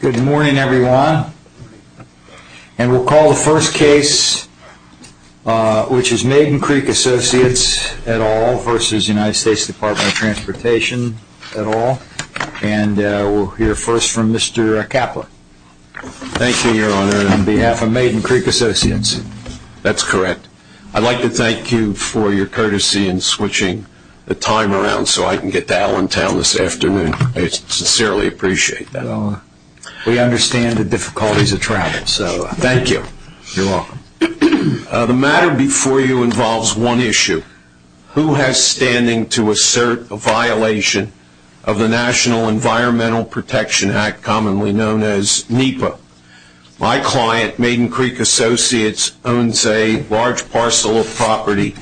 Good morning, everyone. And we'll call the first case, which is MaidenCreekAssociates etalv versus United States Department of Transportation etalv. And we'll hear first from Mr. Kaplan. Thank you, Your Honor. On behalf of MaidenCreekAssociates. That's correct. I'd like to thank you for your courtesy in switching the time around so I can get to Allentown this afternoon. I sincerely appreciate that. We understand the difficulties of travel. Thank you. You're welcome. The matter before you involves one issue. Who has standing to assert a violation of the National Environmental Protection Act, commonly known as NEPA? My client, MaidenCreekAssociates, owns a large parcel of property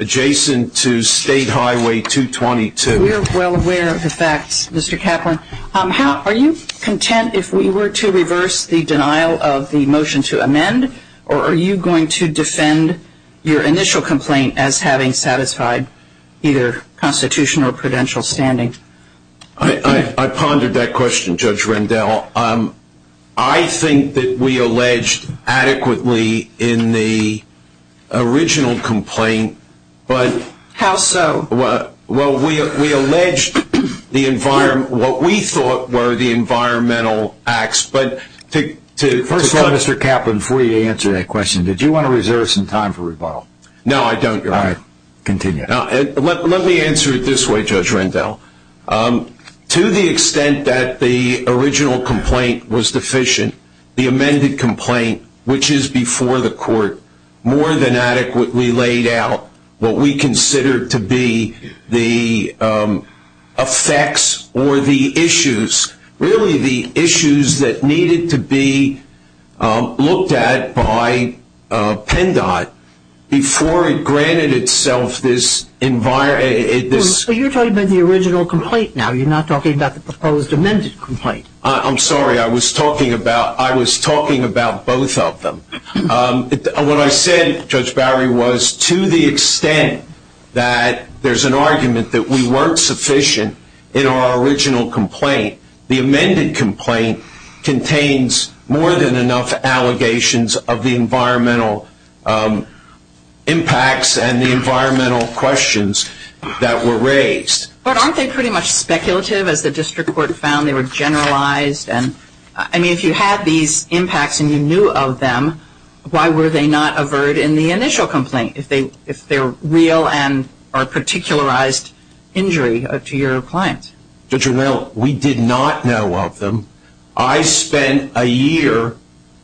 adjacent to State Highway 222. We are well aware of the facts, Mr. Kaplan. Are you content if we were to reverse the denial of the motion to amend, or are you going to defend your initial complaint as having satisfied either constitutional or prudential standing? I pondered that question, Judge Rendell. I think that we alleged adequately in the original complaint. How so? Well, we alleged what we thought were the environmental acts. First of all, Mr. Kaplan, before you answer that question, did you want to reserve some time for rebuttal? No, I don't. All right. Continue. Let me answer it this way, Judge Rendell. To the extent that the original complaint was deficient, the amended complaint, which is before the court, more than adequately laid out what we considered to be the effects or the issues, really the issues that needed to be looked at by PENDOT before it granted itself this environment. You're talking about the original complaint now. You're not talking about the proposed amended complaint. I'm sorry. I was talking about both of them. What I said, Judge Bowery, was to the extent that there's an argument that we weren't sufficient in our original complaint, the amended complaint contains more than enough allegations of the environmental impacts and the environmental questions that were raised. But aren't they pretty much speculative, as the district court found? They were generalized. I mean, if you had these impacts and you knew of them, why were they not averred in the initial complaint, if they're real and are a particularized injury to your client? Judge Rendell, we did not know of them. I spent a year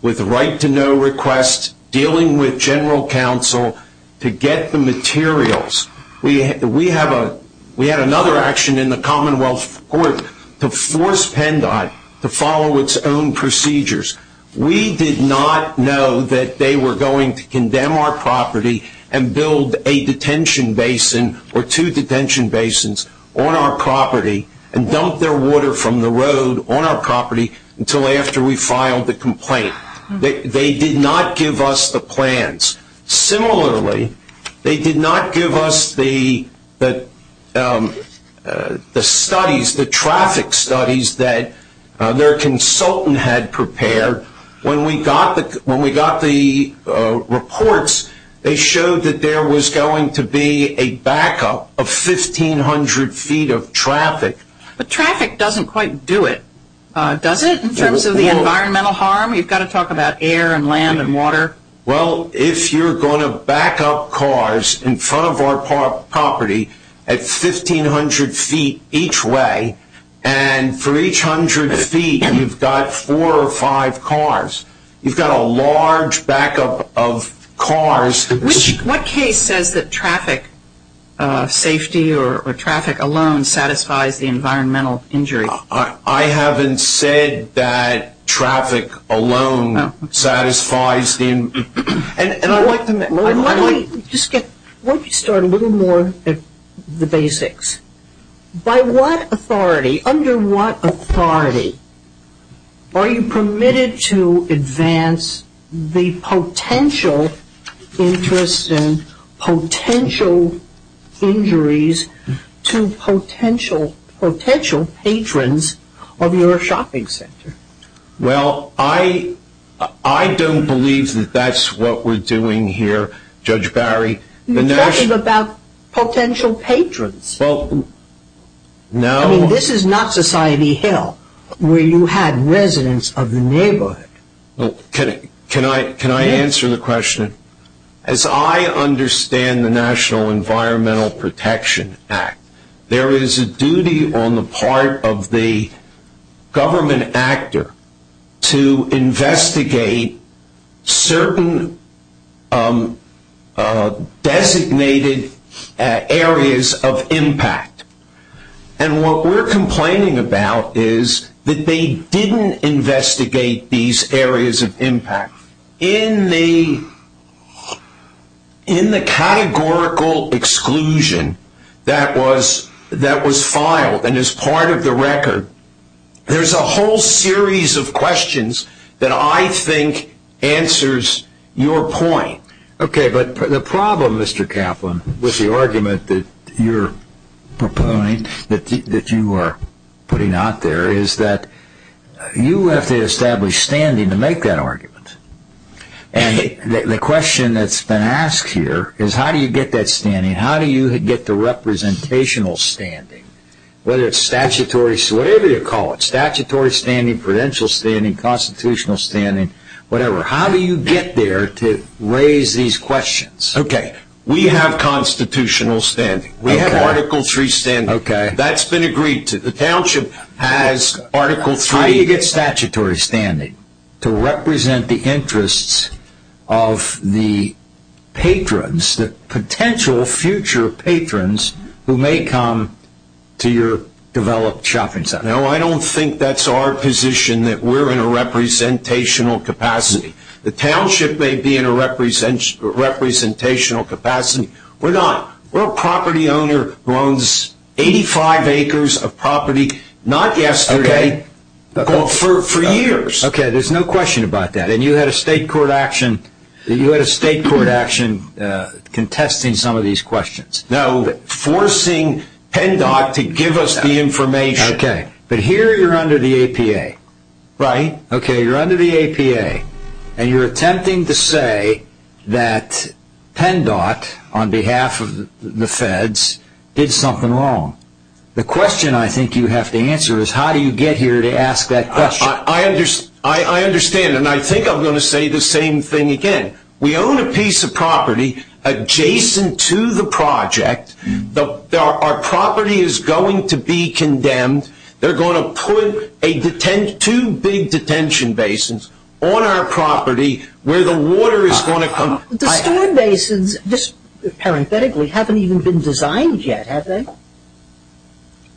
with right-to-know requests, dealing with general counsel to get the materials. We had another action in the Commonwealth Court to force PENDOT to follow its own procedures. We did not know that they were going to condemn our property and build a detention basin or two detention basins on our property and dump their water from the road on our property until after we filed the complaint. They did not give us the plans. Similarly, they did not give us the studies, the traffic studies that their consultant had prepared. When we got the reports, they showed that there was going to be a backup of 1,500 feet of traffic. But traffic doesn't quite do it, does it, in terms of the environmental harm? Well, if you're going to backup cars in front of our property at 1,500 feet each way, and for each 100 feet you've got four or five cars, you've got a large backup of cars. What case says that traffic safety or traffic alone satisfies the environmental injury? I haven't said that traffic alone satisfies the environmental injury. Why don't we start a little more at the basics? By what authority, under what authority, are you permitted to advance the potential interest and potential injuries to potential patrons of your shopping center? Well, I don't believe that that's what we're doing here, Judge Barry. You're talking about potential patrons. Well, no. I mean, this is not Society Hill where you had residents of the neighborhood. Can I answer the question? As I understand the National Environmental Protection Act, there is a duty on the part of the government actor to investigate certain designated areas of impact. And what we're complaining about is that they didn't investigate these areas of impact. In the categorical exclusion that was filed and is part of the record, there's a whole series of questions that I think answers your point. Okay, but the problem, Mr. Kaplan, with the argument that you're proposing, that you are putting out there, is that you have to establish standing to make that argument. And the question that's been asked here is how do you get that standing? How do you get the representational standing? Whether it's statutory, whatever you call it, statutory standing, prudential standing, constitutional standing, whatever. How do you get there to raise these questions? Okay, we have constitutional standing. We have Article 3 standing. That's been agreed to. The township has Article 3. How do you get statutory standing to represent the interests of the patrons, the potential future patrons who may come to your developed shopping center? No, I don't think that's our position that we're in a representational capacity. The township may be in a representational capacity. We're not. We're a property owner who owns 85 acres of property, not yesterday, but for years. Okay, there's no question about that. And you had a state court action contesting some of these questions. No, forcing PennDOT to give us the information. Okay, but here you're under the APA. Right. Okay, you're under the APA, and you're attempting to say that PennDOT, on behalf of the feds, did something wrong. The question I think you have to answer is how do you get here to ask that question? I understand, and I think I'm going to say the same thing again. We own a piece of property adjacent to the project. Our property is going to be condemned. They're going to put two big detention basins on our property where the water is going to come. The storm basins, just parenthetically, haven't even been designed yet, have they?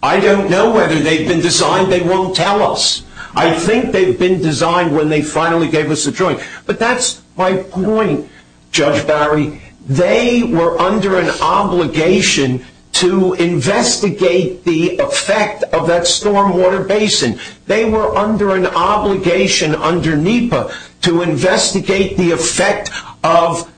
I don't know whether they've been designed. They won't tell us. I think they've been designed when they finally gave us a joint. But that's my point, Judge Barry. They were under an obligation to investigate the effect of that storm water basin. They were under an obligation under NEPA to investigate the effect of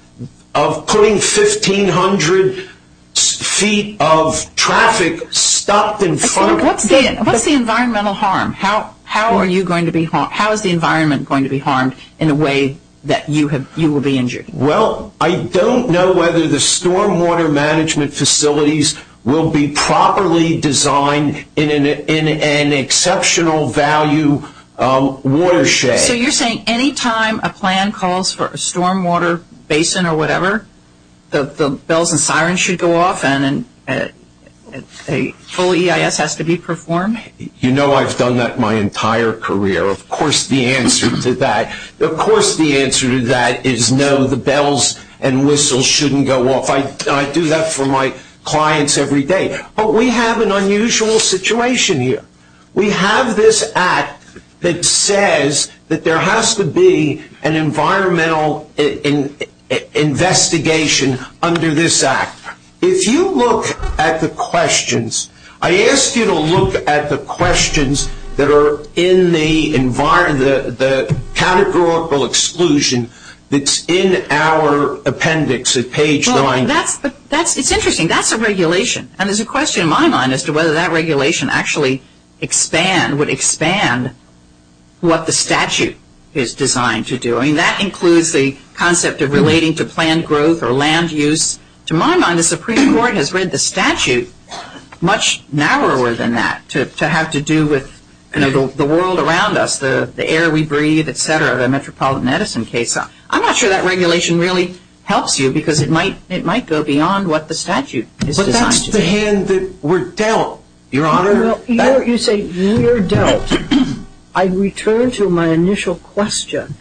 putting 1,500 feet of traffic stopped in front of it. What's the environmental harm? How is the environment going to be harmed in a way that you will be injured? Well, I don't know whether the storm water management facilities will be properly designed in an exceptional value watershed. So you're saying any time a plan calls for a storm water basin or whatever, the bells and sirens should go off and a full EIS has to be performed? You know I've done that my entire career. Of course the answer to that. Is no, the bells and whistles shouldn't go off. I do that for my clients every day. But we have an unusual situation here. We have this act that says that there has to be an environmental investigation under this act. If you look at the questions, I ask you to look at the questions that are in the categorical exclusion that's in our appendix at page 9. It's interesting. That's a regulation. And there's a question in my mind as to whether that regulation actually would expand what the statute is designed to do. I mean, that includes the concept of relating to planned growth or land use. To my mind, the Supreme Court has read the statute much narrower than that to have to do with the world around us, the air we breathe, et cetera, the Metropolitan Edison case. I'm not sure that regulation really helps you because it might go beyond what the statute is designed to do. But that's the hand that we're dealt, Your Honor. Well, you say we're dealt. I return to my initial question.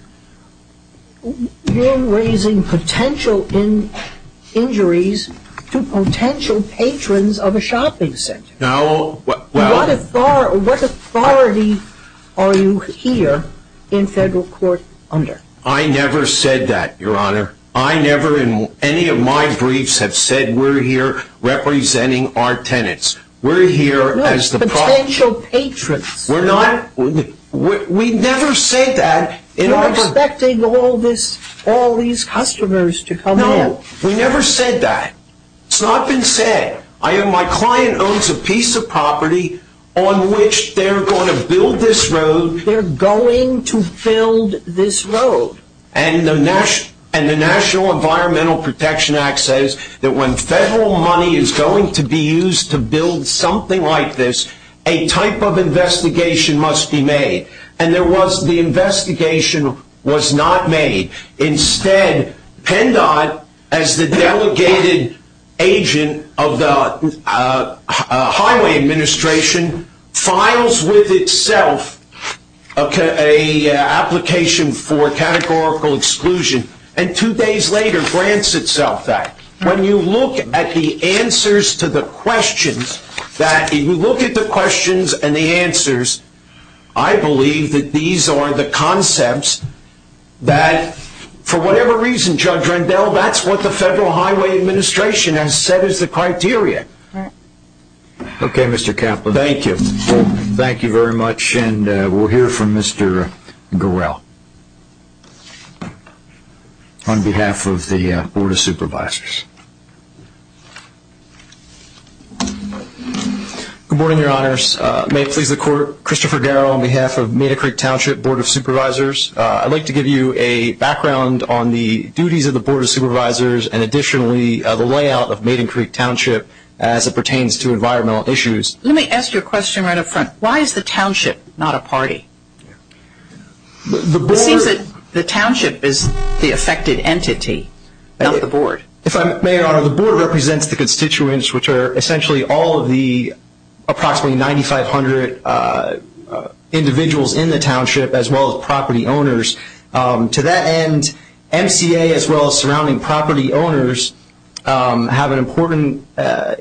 You're raising potential injuries to potential patrons of a shopping center. No. What authority are you here in federal court under? I never said that, Your Honor. I never in any of my briefs have said we're here representing our tenants. No, potential patrons. We never said that. You're expecting all these customers to come in. No, we never said that. It's not been said. My client owns a piece of property on which they're going to build this road. They're going to build this road. And the National Environmental Protection Act says that when federal money is going to be used to build something like this, a type of investigation must be made. And the investigation was not made. Instead, PennDOT, as the delegated agent of the Highway Administration, files with itself an application for categorical exclusion and two days later grants itself that. When you look at the answers to the questions, that if you look at the questions and the answers, I believe that these are the concepts that for whatever reason, Judge Rendell, that's what the Federal Highway Administration has said is the criteria. Okay, Mr. Kaplan. Thank you. Thank you very much. And we'll hear from Mr. Garrell on behalf of the Board of Supervisors. Good morning, Your Honors. May it please the Court, Christopher Garrell on behalf of Maiden Creek Township Board of Supervisors. I'd like to give you a background on the duties of the Board of Supervisors and additionally the layout of Maiden Creek Township as it pertains to environmental issues. Why is the Township not a party? It seems that the Township is the affected entity, not the Board. If I may, Your Honor, the Board represents the constituents, which are essentially all of the approximately 9,500 individuals in the Township as well as property owners. To that end, MCA as well as surrounding property owners have an important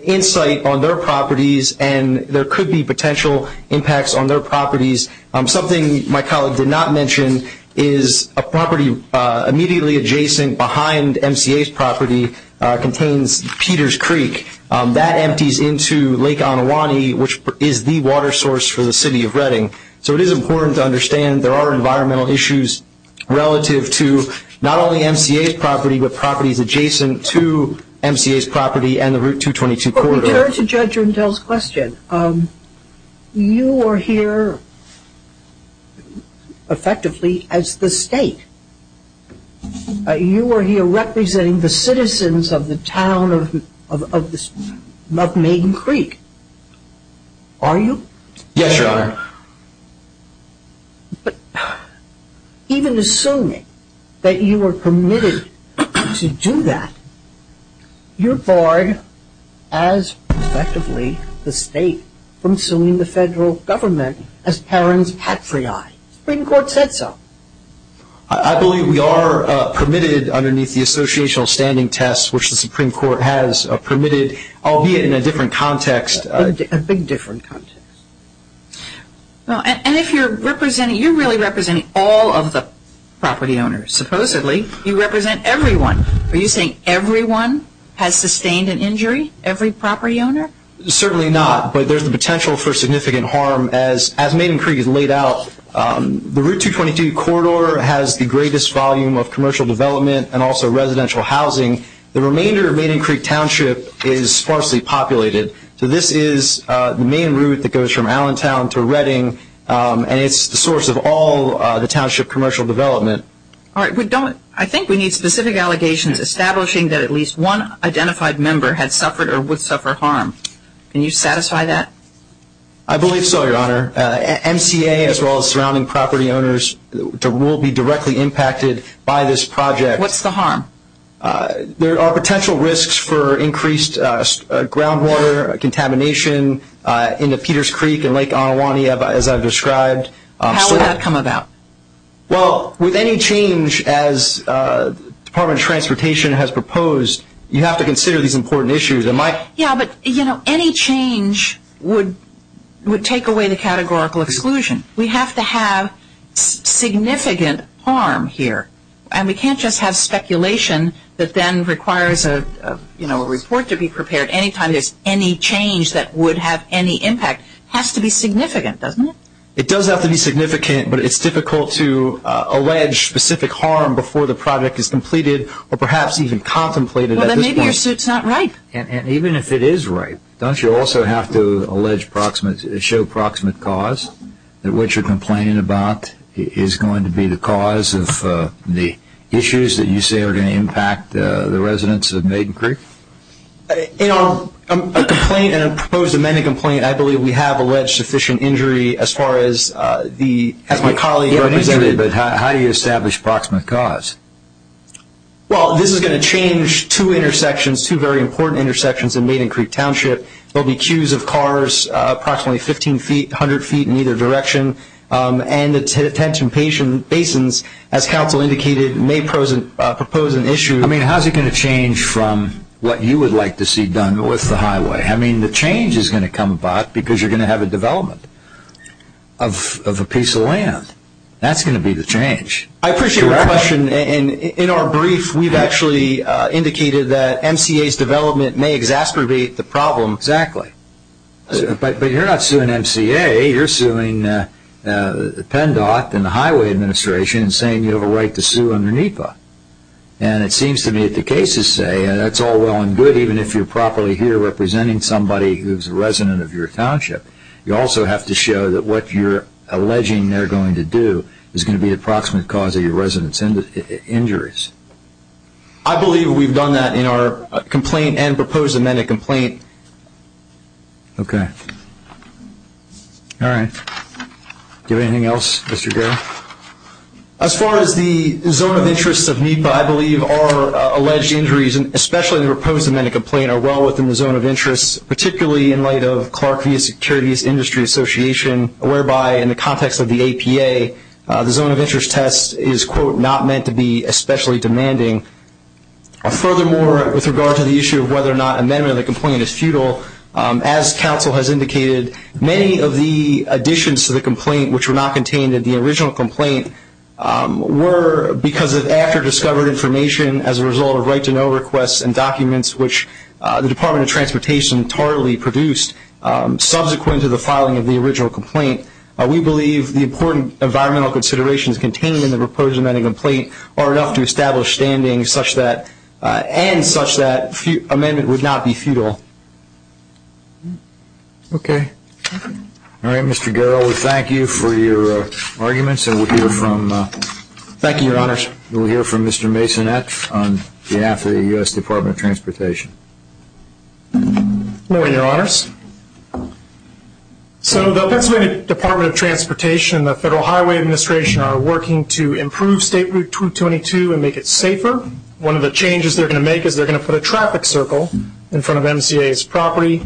insight on their properties and there could be potential impacts on their properties. Something my colleague did not mention is a property immediately adjacent behind MCA's property contains Peters Creek. That empties into Lake Onewanee, which is the water source for the City of Reading. So it is important to understand there are environmental issues relative to not only MCA's property but properties adjacent to MCA's property and the Route 222 corridor. But we turn to Judge Rundell's question. You are here effectively as the State. You are here representing the citizens of the town of Maiden Creek, are you? Yes, Your Honor. But even assuming that you are permitted to do that, you are barred as effectively the State from suing the Federal Government as parents' patriarch. The Supreme Court said so. I believe we are permitted underneath the associational standing test, which the Supreme Court has permitted, albeit in a different context. A big different context. And if you are representing, you are really representing all of the property owners, supposedly. You represent everyone. Are you saying everyone has sustained an injury, every property owner? Certainly not, but there is the potential for significant harm as Maiden Creek is laid out. The Route 222 corridor has the greatest volume of commercial development and also residential housing. The remainder of Maiden Creek Township is sparsely populated. So this is the main route that goes from Allentown to Redding, and it's the source of all the township commercial development. All right. I think we need specific allegations establishing that at least one identified member had suffered or would suffer harm. Can you satisfy that? I believe so, Your Honor. MCA as well as surrounding property owners will be directly impacted by this project. What's the harm? There are potential risks for increased groundwater contamination into Peters Creek and Lake Onewanee, as I've described. How would that come about? Well, with any change as the Department of Transportation has proposed, you have to consider these important issues. Yeah, but, you know, any change would take away the categorical exclusion. We have to have significant harm here, and we can't just have speculation that then requires, you know, a report to be prepared any time there's any change that would have any impact. It has to be significant, doesn't it? It does have to be significant, but it's difficult to allege specific harm before the project is completed or perhaps even contemplated at this point. Well, then maybe your suit's not right. And even if it is right, don't you also have to show proximate cause, that what you're complaining about is going to be the cause of the issues that you say are going to impact the residents of Maiden Creek? In our complaint and proposed amended complaint, I believe we have alleged sufficient injury as far as my colleague represented. But how do you establish proximate cause? Well, this is going to change two intersections, two very important intersections in Maiden Creek Township. There will be queues of cars approximately 15 feet, 100 feet in either direction. And the Teton Basins, as counsel indicated, may propose an issue. I mean, how's it going to change from what you would like to see done with the highway? I mean, the change is going to come about because you're going to have a development of a piece of land. That's going to be the change. I appreciate your question. And in our brief, we've actually indicated that MCA's development may exacerbate the problem. Exactly. But you're not suing MCA. You're suing PennDOT and the Highway Administration and saying you have a right to sue under NEPA. And it seems to me that the cases say that's all well and good, even if you're properly here representing somebody who's a resident of your township. You also have to show that what you're alleging they're going to do is going to be the approximate cause of your resident's injuries. I believe we've done that in our complaint and proposed amendment complaint. Okay. All right. Do you have anything else, Mr. Garrett? As far as the zone of interest of NEPA, I believe our alleged injuries, especially in the proposed amendment complaint, are well within the zone of interest, particularly in light of Clark v. Securities Industry Association, whereby in the context of the APA, the zone of interest test is, quote, not meant to be especially demanding. Furthermore, with regard to the issue of whether or not amendment of the complaint is futile, as counsel has indicated, many of the additions to the complaint, which were not contained in the original complaint, were because of after-discovered information as a result of right-to-know requests and documents which the Department of Transportation thoroughly produced subsequent to the filing of the original complaint. We believe the important environmental considerations contained in the proposed amendment complaint are enough to establish standing and such that amendment would not be futile. Okay. All right, Mr. Garrett, we thank you for your arguments. Thank you, Your Honors. We'll hear from Mr. Masonet on behalf of the U.S. Department of Transportation. Good morning, Your Honors. So the Pennsylvania Department of Transportation and the Federal Highway Administration are working to improve State Route 222 and make it safer. One of the changes they're going to make is they're going to put a traffic circle in front of MCA's property.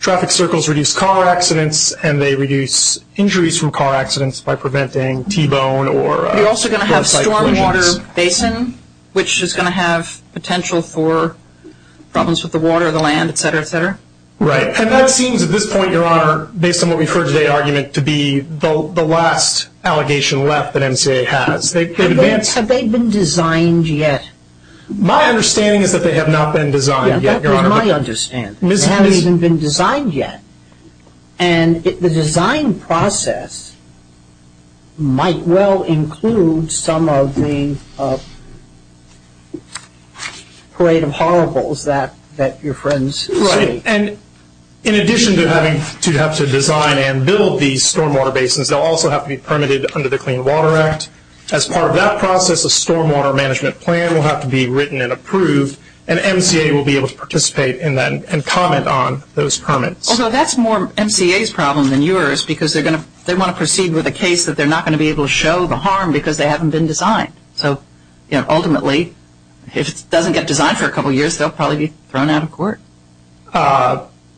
Traffic circles reduce car accidents, and they reduce injuries from car accidents by preventing T-bone You're also going to have stormwater basin, which is going to have potential for problems with the water, the land, et cetera, et cetera. Right. And that seems at this point, Your Honor, based on what we've heard today, argument to be the last allegation left that MCA has. Have they been designed yet? My understanding is that they have not been designed yet, Your Honor. That was my understanding. They haven't even been designed yet. And the design process might well include some of the parade of horribles that your friends see. Right. And in addition to having to have to design and build these stormwater basins, they'll also have to be permitted under the Clean Water Act. As part of that process, a stormwater management plan will have to be written and approved, and MCA will be able to participate in that and comment on those permits. Although that's more MCA's problem than yours, because they want to proceed with a case that they're not going to be able to show the harm because they haven't been designed. So, you know, ultimately, if it doesn't get designed for a couple years, they'll probably be thrown out of court.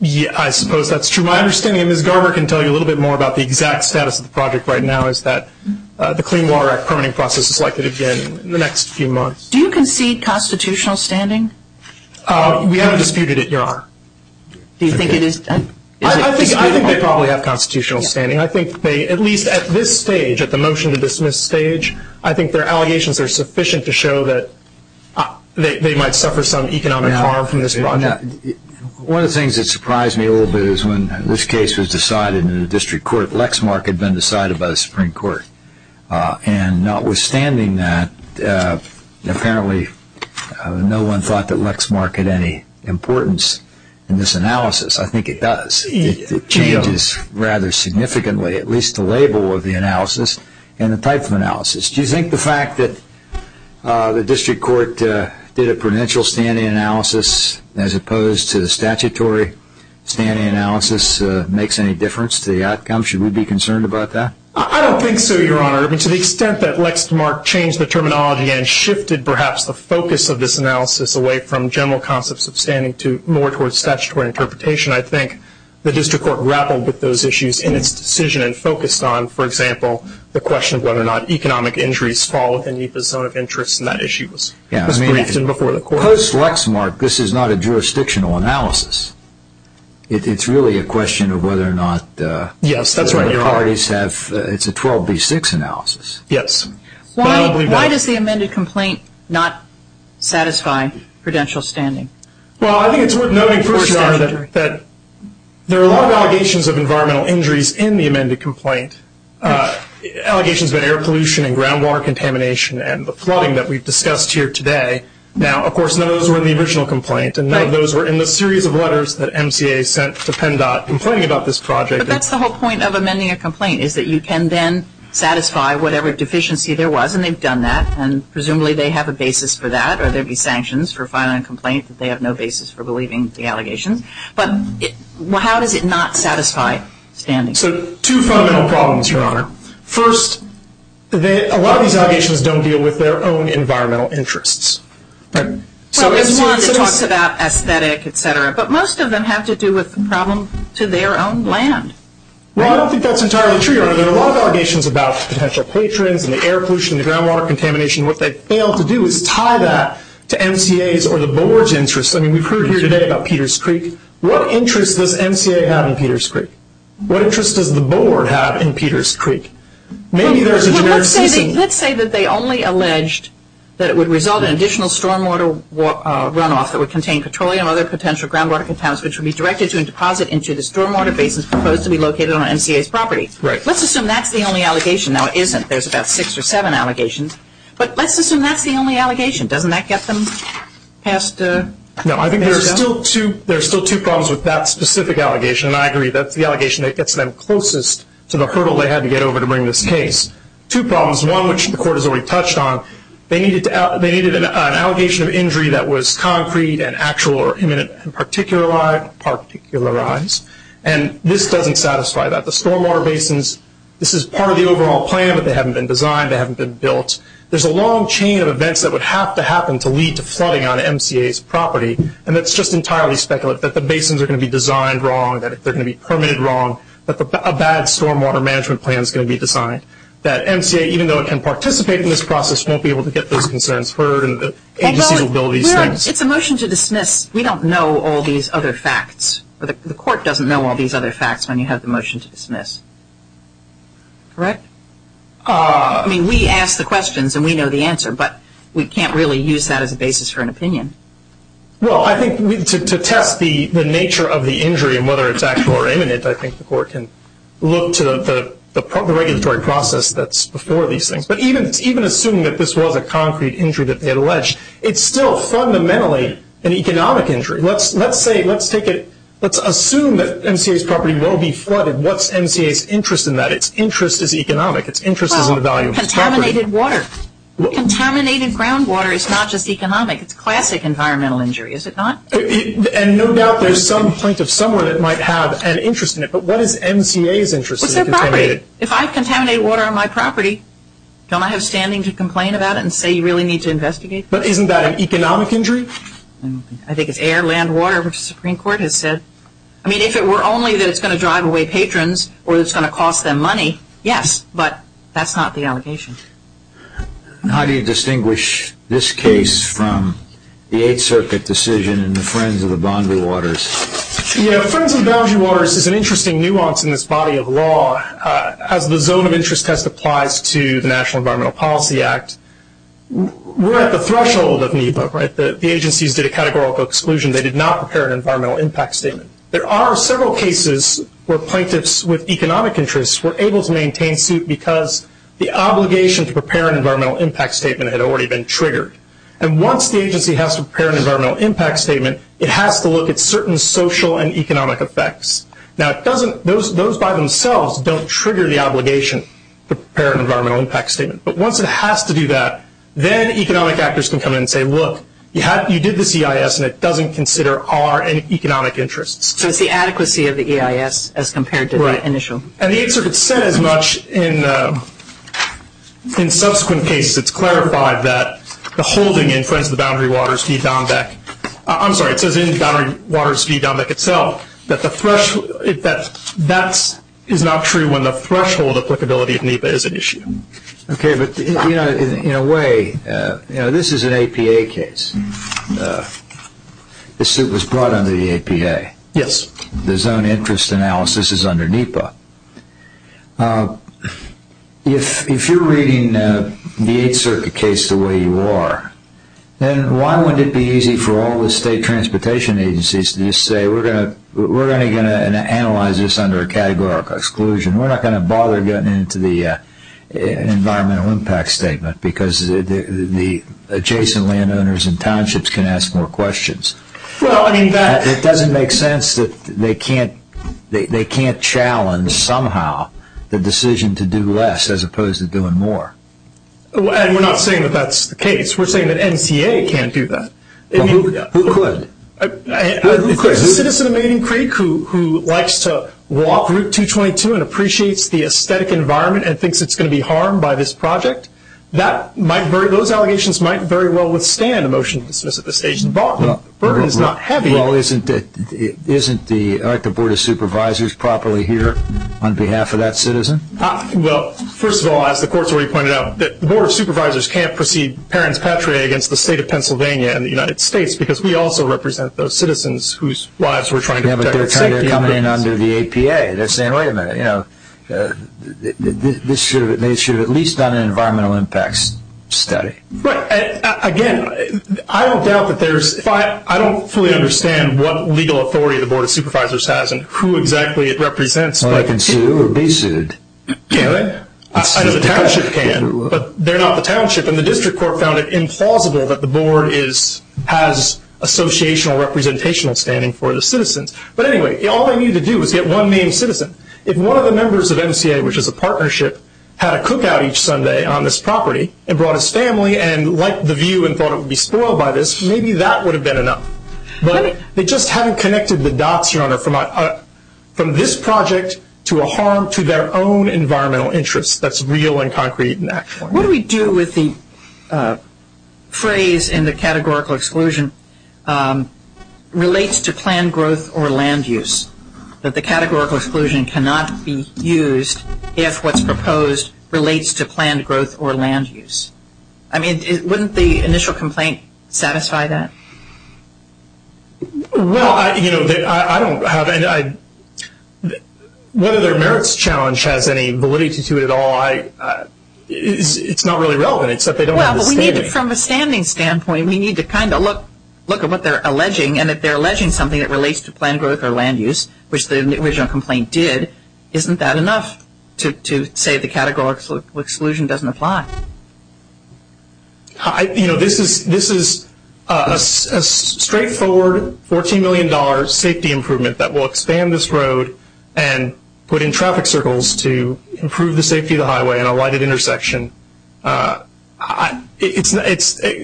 Yeah, I suppose that's true. My understanding, and Ms. Garber can tell you a little bit more about the exact status of the project right now, is that the Clean Water Act permitting process is likely to begin in the next few months. Do you concede constitutional standing? We haven't disputed it, Your Honor. Do you think it is? I think they probably have constitutional standing. I think they, at least at this stage, at the motion to dismiss stage, I think their allegations are sufficient to show that they might suffer some economic harm from this project. One of the things that surprised me a little bit is when this case was decided in the district court, Lexmark had been decided by the Supreme Court. And notwithstanding that, apparently no one thought that Lexmark had any importance in this analysis. I think it does. It changes rather significantly, at least the label of the analysis and the type of analysis. Do you think the fact that the district court did a prudential standing analysis as opposed to the statutory standing analysis makes any difference to the outcome? Should we be concerned about that? I don't think so, Your Honor. I mean, to the extent that Lexmark changed the terminology and shifted perhaps the focus of this analysis away from general concepts of standing to more towards statutory interpretation, I think the district court grappled with those issues in its decision and focused on, for example, the question of whether or not economic injuries fall within NEPA's zone of interest. And that issue was briefed before the court. Post-Lexmark, this is not a jurisdictional analysis. It's really a question of whether or not the parties have, it's a 12B6 analysis. Yes. Why does the amended complaint not satisfy prudential standing? Well, I think it's worth noting first, Your Honor, that there are a lot of allegations of environmental injuries in the amended complaint. Allegations of air pollution and groundwater contamination and the flooding that we've discussed here today. Now, of course, none of those were in the original complaint and none of those were in the series of letters that MCA sent to PennDOT complaining about this project. But that's the whole point of amending a complaint, is that you can then satisfy whatever deficiency there was, and they've done that, and presumably they have a basis for that, or there'd be sanctions for filing a complaint that they have no basis for believing the allegations. But how does it not satisfy standing? So two fundamental problems, Your Honor. First, a lot of these allegations don't deal with their own environmental interests. Well, there's one that talks about aesthetic, et cetera, but most of them have to do with the problem to their own land. Well, I don't think that's entirely true, Your Honor. There are a lot of allegations about potential patrons and the air pollution and the groundwater contamination. What they fail to do is tie that to MCA's or the board's interests. I mean, we've heard here today about Peters Creek. What interest does MCA have in Peters Creek? What interest does the board have in Peters Creek? Maybe there's a generic season. Let's say that they only alleged that it would result in additional stormwater runoff that would contain petroleum and other potential groundwater contaminants, which would be directed to and deposit into the stormwater basins proposed to be located on MCA's property. Right. Let's assume that's the only allegation. Now, it isn't. There's about six or seven allegations. But let's assume that's the only allegation. Doesn't that get them past? No, I think there are still two problems with that specific allegation, and I agree. That's the allegation that gets them closest to the hurdle they had to get over to bring this case. Two problems. One, which the court has already touched on, they needed an allegation of injury that was concrete and actual or imminent and particularized. And this doesn't satisfy that. The stormwater basins, this is part of the overall plan, but they haven't been designed. They haven't been built. There's a long chain of events that would have to happen to lead to flooding on MCA's property, and it's just entirely speculative that the basins are going to be designed wrong, that they're going to be permitted wrong, that a bad stormwater management plan is going to be designed, that MCA, even though it can participate in this process, won't be able to get those concerns heard and the agencies will build these things. It's a motion to dismiss. We don't know all these other facts. The court doesn't know all these other facts when you have the motion to dismiss. Correct? I mean, we ask the questions and we know the answer, but we can't really use that as a basis for an opinion. Well, I think to test the nature of the injury and whether it's actual or imminent, I think the court can look to the regulatory process that's before these things. But even assuming that this was a concrete injury that they had alleged, it's still fundamentally an economic injury. Let's assume that MCA's property will be flooded. What's MCA's interest in that? Its interest is economic. Its interest is in the value of its property. Well, contaminated water. Contaminated groundwater is not just economic. It's classic environmental injury, is it not? And no doubt there's some point of summary that might have an interest in it, but what is MCA's interest in contaminated? If I've contaminated water on my property, don't I have standing to complain about it and say you really need to investigate? But isn't that an economic injury? I think it's air, land, water, which the Supreme Court has said. I mean, if it were only that it's going to drive away patrons or it's going to cost them money, yes. But that's not the allegation. How do you distinguish this case from the Eighth Circuit decision and the Friends of the Boundary Waters? Yeah, Friends of the Boundary Waters is an interesting nuance in this body of law. As the zone of interest test applies to the National Environmental Policy Act, we're at the threshold of NEPA, right? The agencies did a categorical exclusion. They did not prepare an environmental impact statement. There are several cases where plaintiffs with economic interests were able to maintain suit because the obligation to prepare an environmental impact statement had already been triggered. And once the agency has to prepare an environmental impact statement, it has to look at certain social and economic effects. Now, those by themselves don't trigger the obligation to prepare an environmental impact statement. But once it has to do that, then economic actors can come in and say, look, you did this EIS and it doesn't consider our economic interests. So it's the adequacy of the EIS as compared to the initial. And the Eighth Circuit said as much in subsequent cases. It's clarified that the holding in Friends of the Boundary Waters v. Dombeck, I'm sorry, it says in Boundary Waters v. Dombeck itself, that that is not true when the threshold applicability of NEPA is at issue. Okay, but in a way, you know, this is an APA case. This suit was brought under the APA. Yes. The zone interest analysis is under NEPA. If you're reading the Eighth Circuit case the way you are, then why wouldn't it be easy for all the state transportation agencies to just say, we're only going to analyze this under a categorical exclusion. We're not going to bother getting into the environmental impact statement because the adjacent landowners and townships can ask more questions. It doesn't make sense that they can't challenge somehow the decision to do less as opposed to doing more. And we're not saying that that's the case. We're saying that NTA can't do that. Who could? A citizen of Maiden Creek who likes to walk Route 222 and appreciates the aesthetic environment and thinks it's going to be harmed by this project, those allegations might very well withstand a motion to dismiss at this stage. The burden is not heavy. Well, isn't the Board of Supervisors properly here on behalf of that citizen? Well, first of all, as the court's already pointed out, the Board of Supervisors can't proceed parents patriae against the state of Pennsylvania and the United States because we also represent those citizens whose lives we're trying to protect. Yeah, but they're coming in under the APA. They're saying, wait a minute, this should have at least done an environmental impacts study. Right. Again, I don't fully understand what legal authority the Board of Supervisors has and who exactly it represents. Well, they can sue or be sued. I know the township can, but they're not the township. And the district court found it implausible that the board has associational or representational standing for the citizens. But anyway, all they needed to do was get one named citizen. If one of the members of NCA, which is a partnership, had a cookout each Sunday on this property and brought his family and liked the view and thought it would be spoiled by this, maybe that would have been enough. But they just haven't connected the dots, Your Honor, from this project to a harm to their own environmental interest that's real and concrete in that point. What do we do with the phrase in the categorical exclusion, relates to planned growth or land use, that the categorical exclusion cannot be used if what's proposed relates to planned growth or land use? I mean, wouldn't the initial complaint satisfy that? Well, you know, I don't have any – whether their merits challenge has any validity to it at all, it's not really relevant except they don't have the standing. Well, from a standing standpoint, we need to kind of look at what they're alleging. And if they're alleging something that relates to planned growth or land use, which the original complaint did, isn't that enough to say the categorical exclusion doesn't apply? You know, this is a straightforward $14 million safety improvement that will expand this road and put in traffic circles to improve the safety of the highway and a lighted intersection. It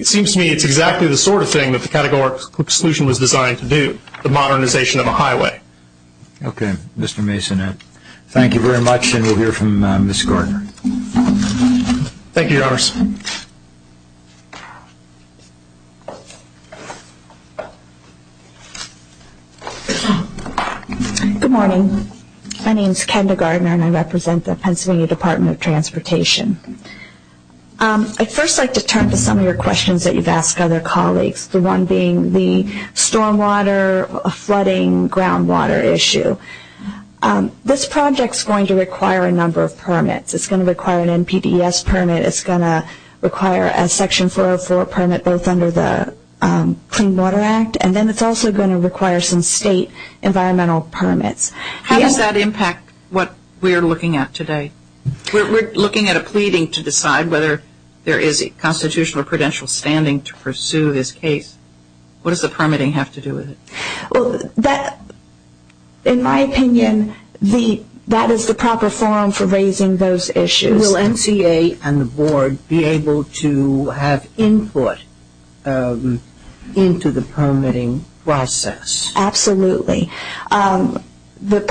seems to me it's exactly the sort of thing that the categorical exclusion was designed to do, the modernization of a highway. Okay. Mr. Mason, thank you very much, and we'll hear from Ms. Gardner. Thank you, Your Honor. Good morning. My name is Kendra Gardner, and I represent the Pennsylvania Department of Transportation. I'd first like to turn to some of your questions that you've asked other colleagues, the one being the stormwater, flooding, groundwater issue. This project is going to require a number of permits. It's going to require an NPDES permit. It's going to require a Section 404 permit both under the Clean Water Act, and then it's also going to require some state environmental permits. How does that impact what we're looking at today? We're looking at a pleading to decide whether there is a constitutional or prudential standing to pursue this case. What does the permitting have to do with it? Well, in my opinion, that is the proper forum for raising those issues. Will NCA and the Board be able to have input into the permitting process? Absolutely. There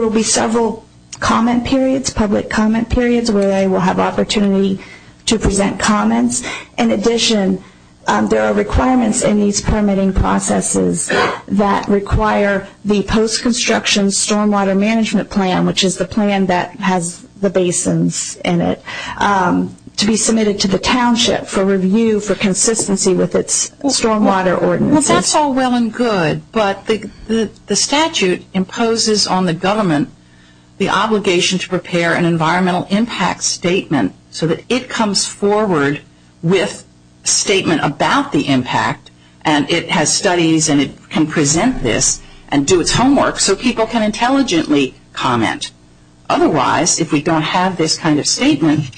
will be several comment periods, public comment periods, where they will have opportunity to present comments. In addition, there are requirements in these permitting processes that require the post-construction stormwater management plan, which is the plan that has the basins in it, to be submitted to the township for review for consistency with its stormwater ordinances. That's all well and good, but the statute imposes on the government the obligation to prepare an environmental impact statement so that it comes forward with a statement about the impact, and it has studies and it can present this and do its homework so people can intelligently comment. Otherwise, if we don't have this kind of statement,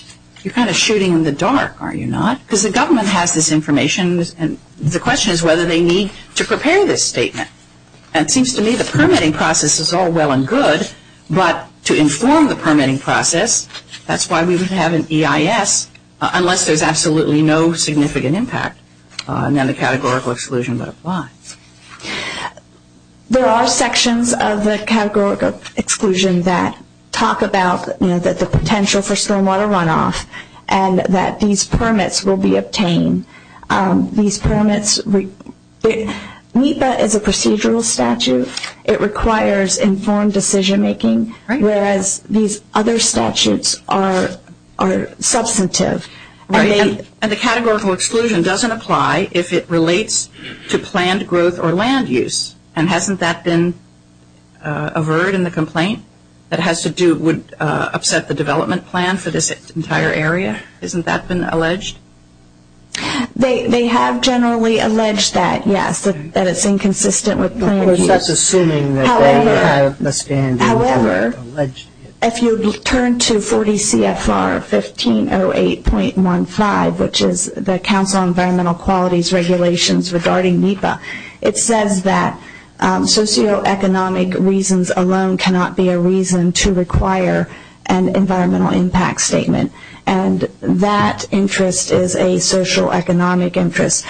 you're kind of shooting in the dark, are you not? Because the government has this information, and the question is whether they need to prepare this statement. It seems to me the permitting process is all well and good, but to inform the permitting process, that's why we would have an EIS, unless there's absolutely no significant impact, and then the categorical exclusion would apply. There are sections of the categorical exclusion that talk about the potential for stormwater runoff and that these permits will be obtained. These permits, NEPA is a procedural statute. It requires informed decision-making, whereas these other statutes are substantive. And the categorical exclusion doesn't apply if it relates to planned growth or land use, and hasn't that been averred in the complaint that has to do with upset the development plan for this entire area? Hasn't that been alleged? They have generally alleged that, yes, that it's inconsistent with planned use. However, if you turn to 40 CFR 1508.15, which is the Council on Environmental Quality's regulations regarding NEPA, it says that socioeconomic reasons alone cannot be a reason to require an environmental impact statement, and that interest is a socioeconomic interest.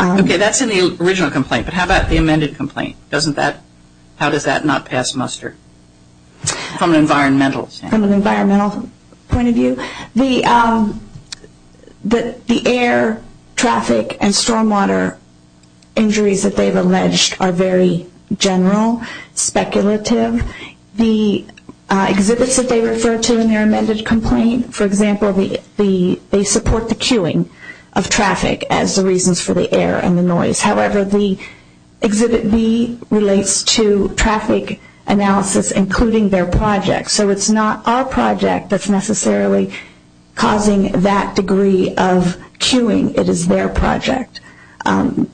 Okay, that's in the original complaint, but how about the amended complaint? How does that not pass muster from an environmental standpoint? From an environmental point of view, the air, traffic, and stormwater injuries that they've alleged are very general, speculative. The exhibits that they refer to in their amended complaint, for example, they support the queuing of traffic as the reasons for the air and the noise. However, the exhibit B relates to traffic analysis, including their project. So it's not our project that's necessarily causing that degree of queuing. It is their project,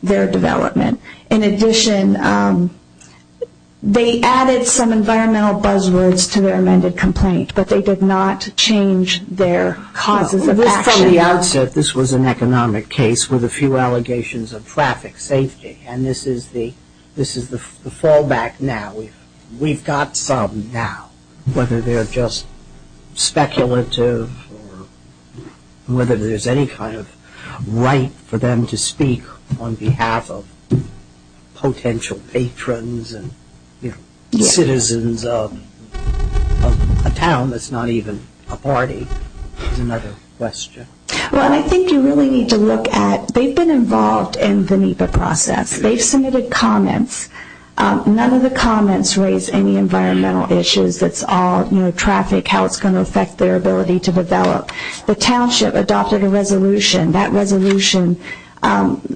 their development. In addition, they added some environmental buzzwords to their amended complaint, At the outset, this was an economic case with a few allegations of traffic safety, and this is the fallback now. We've got some now, whether they're just speculative or whether there's any kind of right for them to speak on behalf of potential patrons and citizens of a town that's not even a party is another question. Well, I think you really need to look at they've been involved in the NEPA process. They've submitted comments. None of the comments raise any environmental issues. It's all traffic, how it's going to affect their ability to develop. The township adopted a resolution. That resolution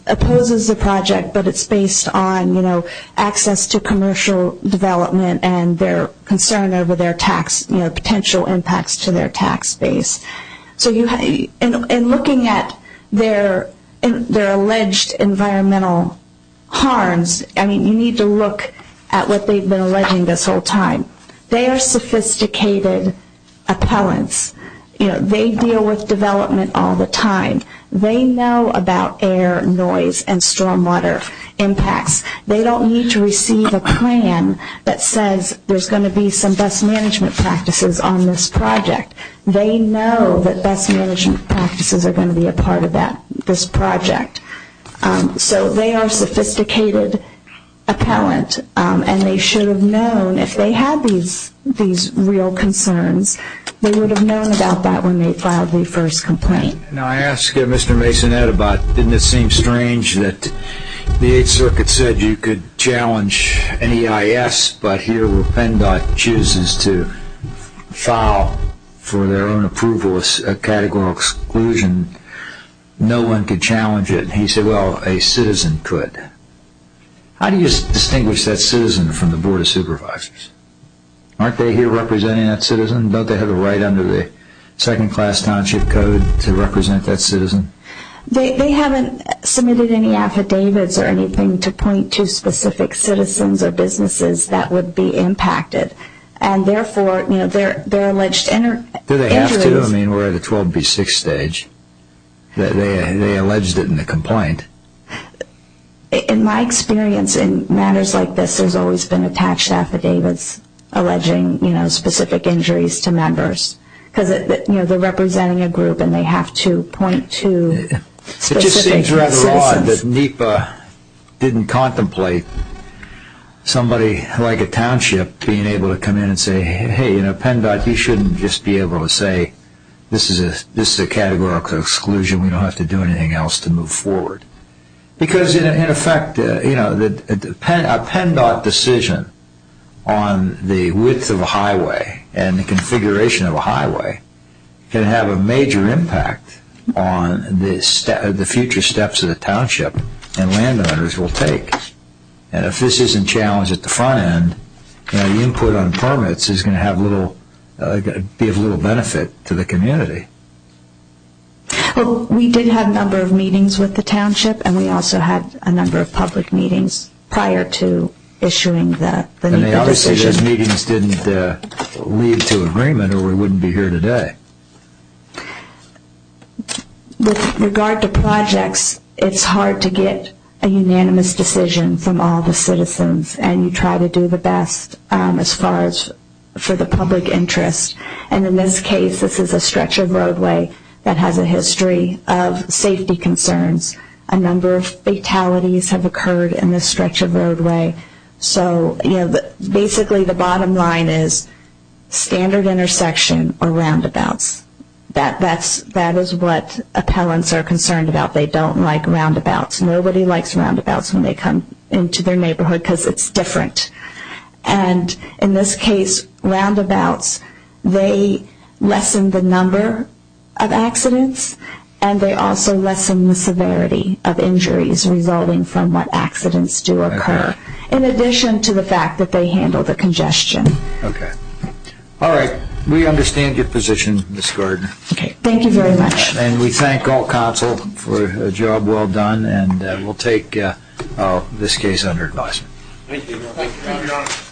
opposes the project, but it's based on access to commercial development and their concern over their potential impacts to their tax base. So in looking at their alleged environmental harms, you need to look at what they've been alleging this whole time. They are sophisticated appellants. They deal with development all the time. They know about air, noise, and stormwater impacts. They don't need to receive a plan that says there's going to be some best management practices on this project. They know that best management practices are going to be a part of this project. So they are sophisticated appellant, and they should have known if they had these real concerns, they would have known about that when they filed the first complaint. Now I asked Mr. Masonette about, didn't it seem strange that the 8th Circuit said you could challenge an EIS, but here where PennDOT chooses to file for their own approval as a categorical exclusion, no one could challenge it. He said, well, a citizen could. How do you distinguish that citizen from the Board of Supervisors? Aren't they here representing that citizen? Don't they have a right under the Second Class Township Code to represent that citizen? They haven't submitted any affidavits or anything to point to specific citizens or businesses that would be impacted. And therefore, their alleged injuries... Do they have to? I mean, we're at a 12B6 stage. They alleged it in the complaint. In my experience in matters like this, there's always been attached affidavits alleging specific injuries to members, because they're representing a group and they have to point to specific citizens. It just seems rather odd that NEPA didn't contemplate somebody like a township being able to come in and say, hey, PennDOT, you shouldn't just be able to say, this is a categorical exclusion. We don't have to do anything else to move forward. Because, in effect, a PennDOT decision on the width of a highway and the configuration of a highway can have a major impact on the future steps that a township and landowners will take. And if this isn't challenged at the front end, the input on permits is going to be of little benefit to the community. Well, we did have a number of meetings with the township and we also had a number of public meetings prior to issuing the NEPA decision. And they obviously, those meetings didn't lead to agreement or we wouldn't be here today. With regard to projects, it's hard to get a unanimous decision from all the citizens and you try to do the best as far as for the public interest. And in this case, this is a stretch of roadway that has a history of safety concerns. A number of fatalities have occurred in this stretch of roadway. So basically the bottom line is standard intersection or roundabouts. That is what appellants are concerned about. They don't like roundabouts. Nobody likes roundabouts when they come into their neighborhood because it's different. And in this case, roundabouts, they lessen the number of accidents and they also lessen the severity of injuries resulting from what accidents do occur in addition to the fact that they handle the congestion. Okay. All right. We understand your position, Ms. Gordon. Okay. Thank you very much. And we thank all counsel for a job well done and we'll take this case under advisement. Thank you.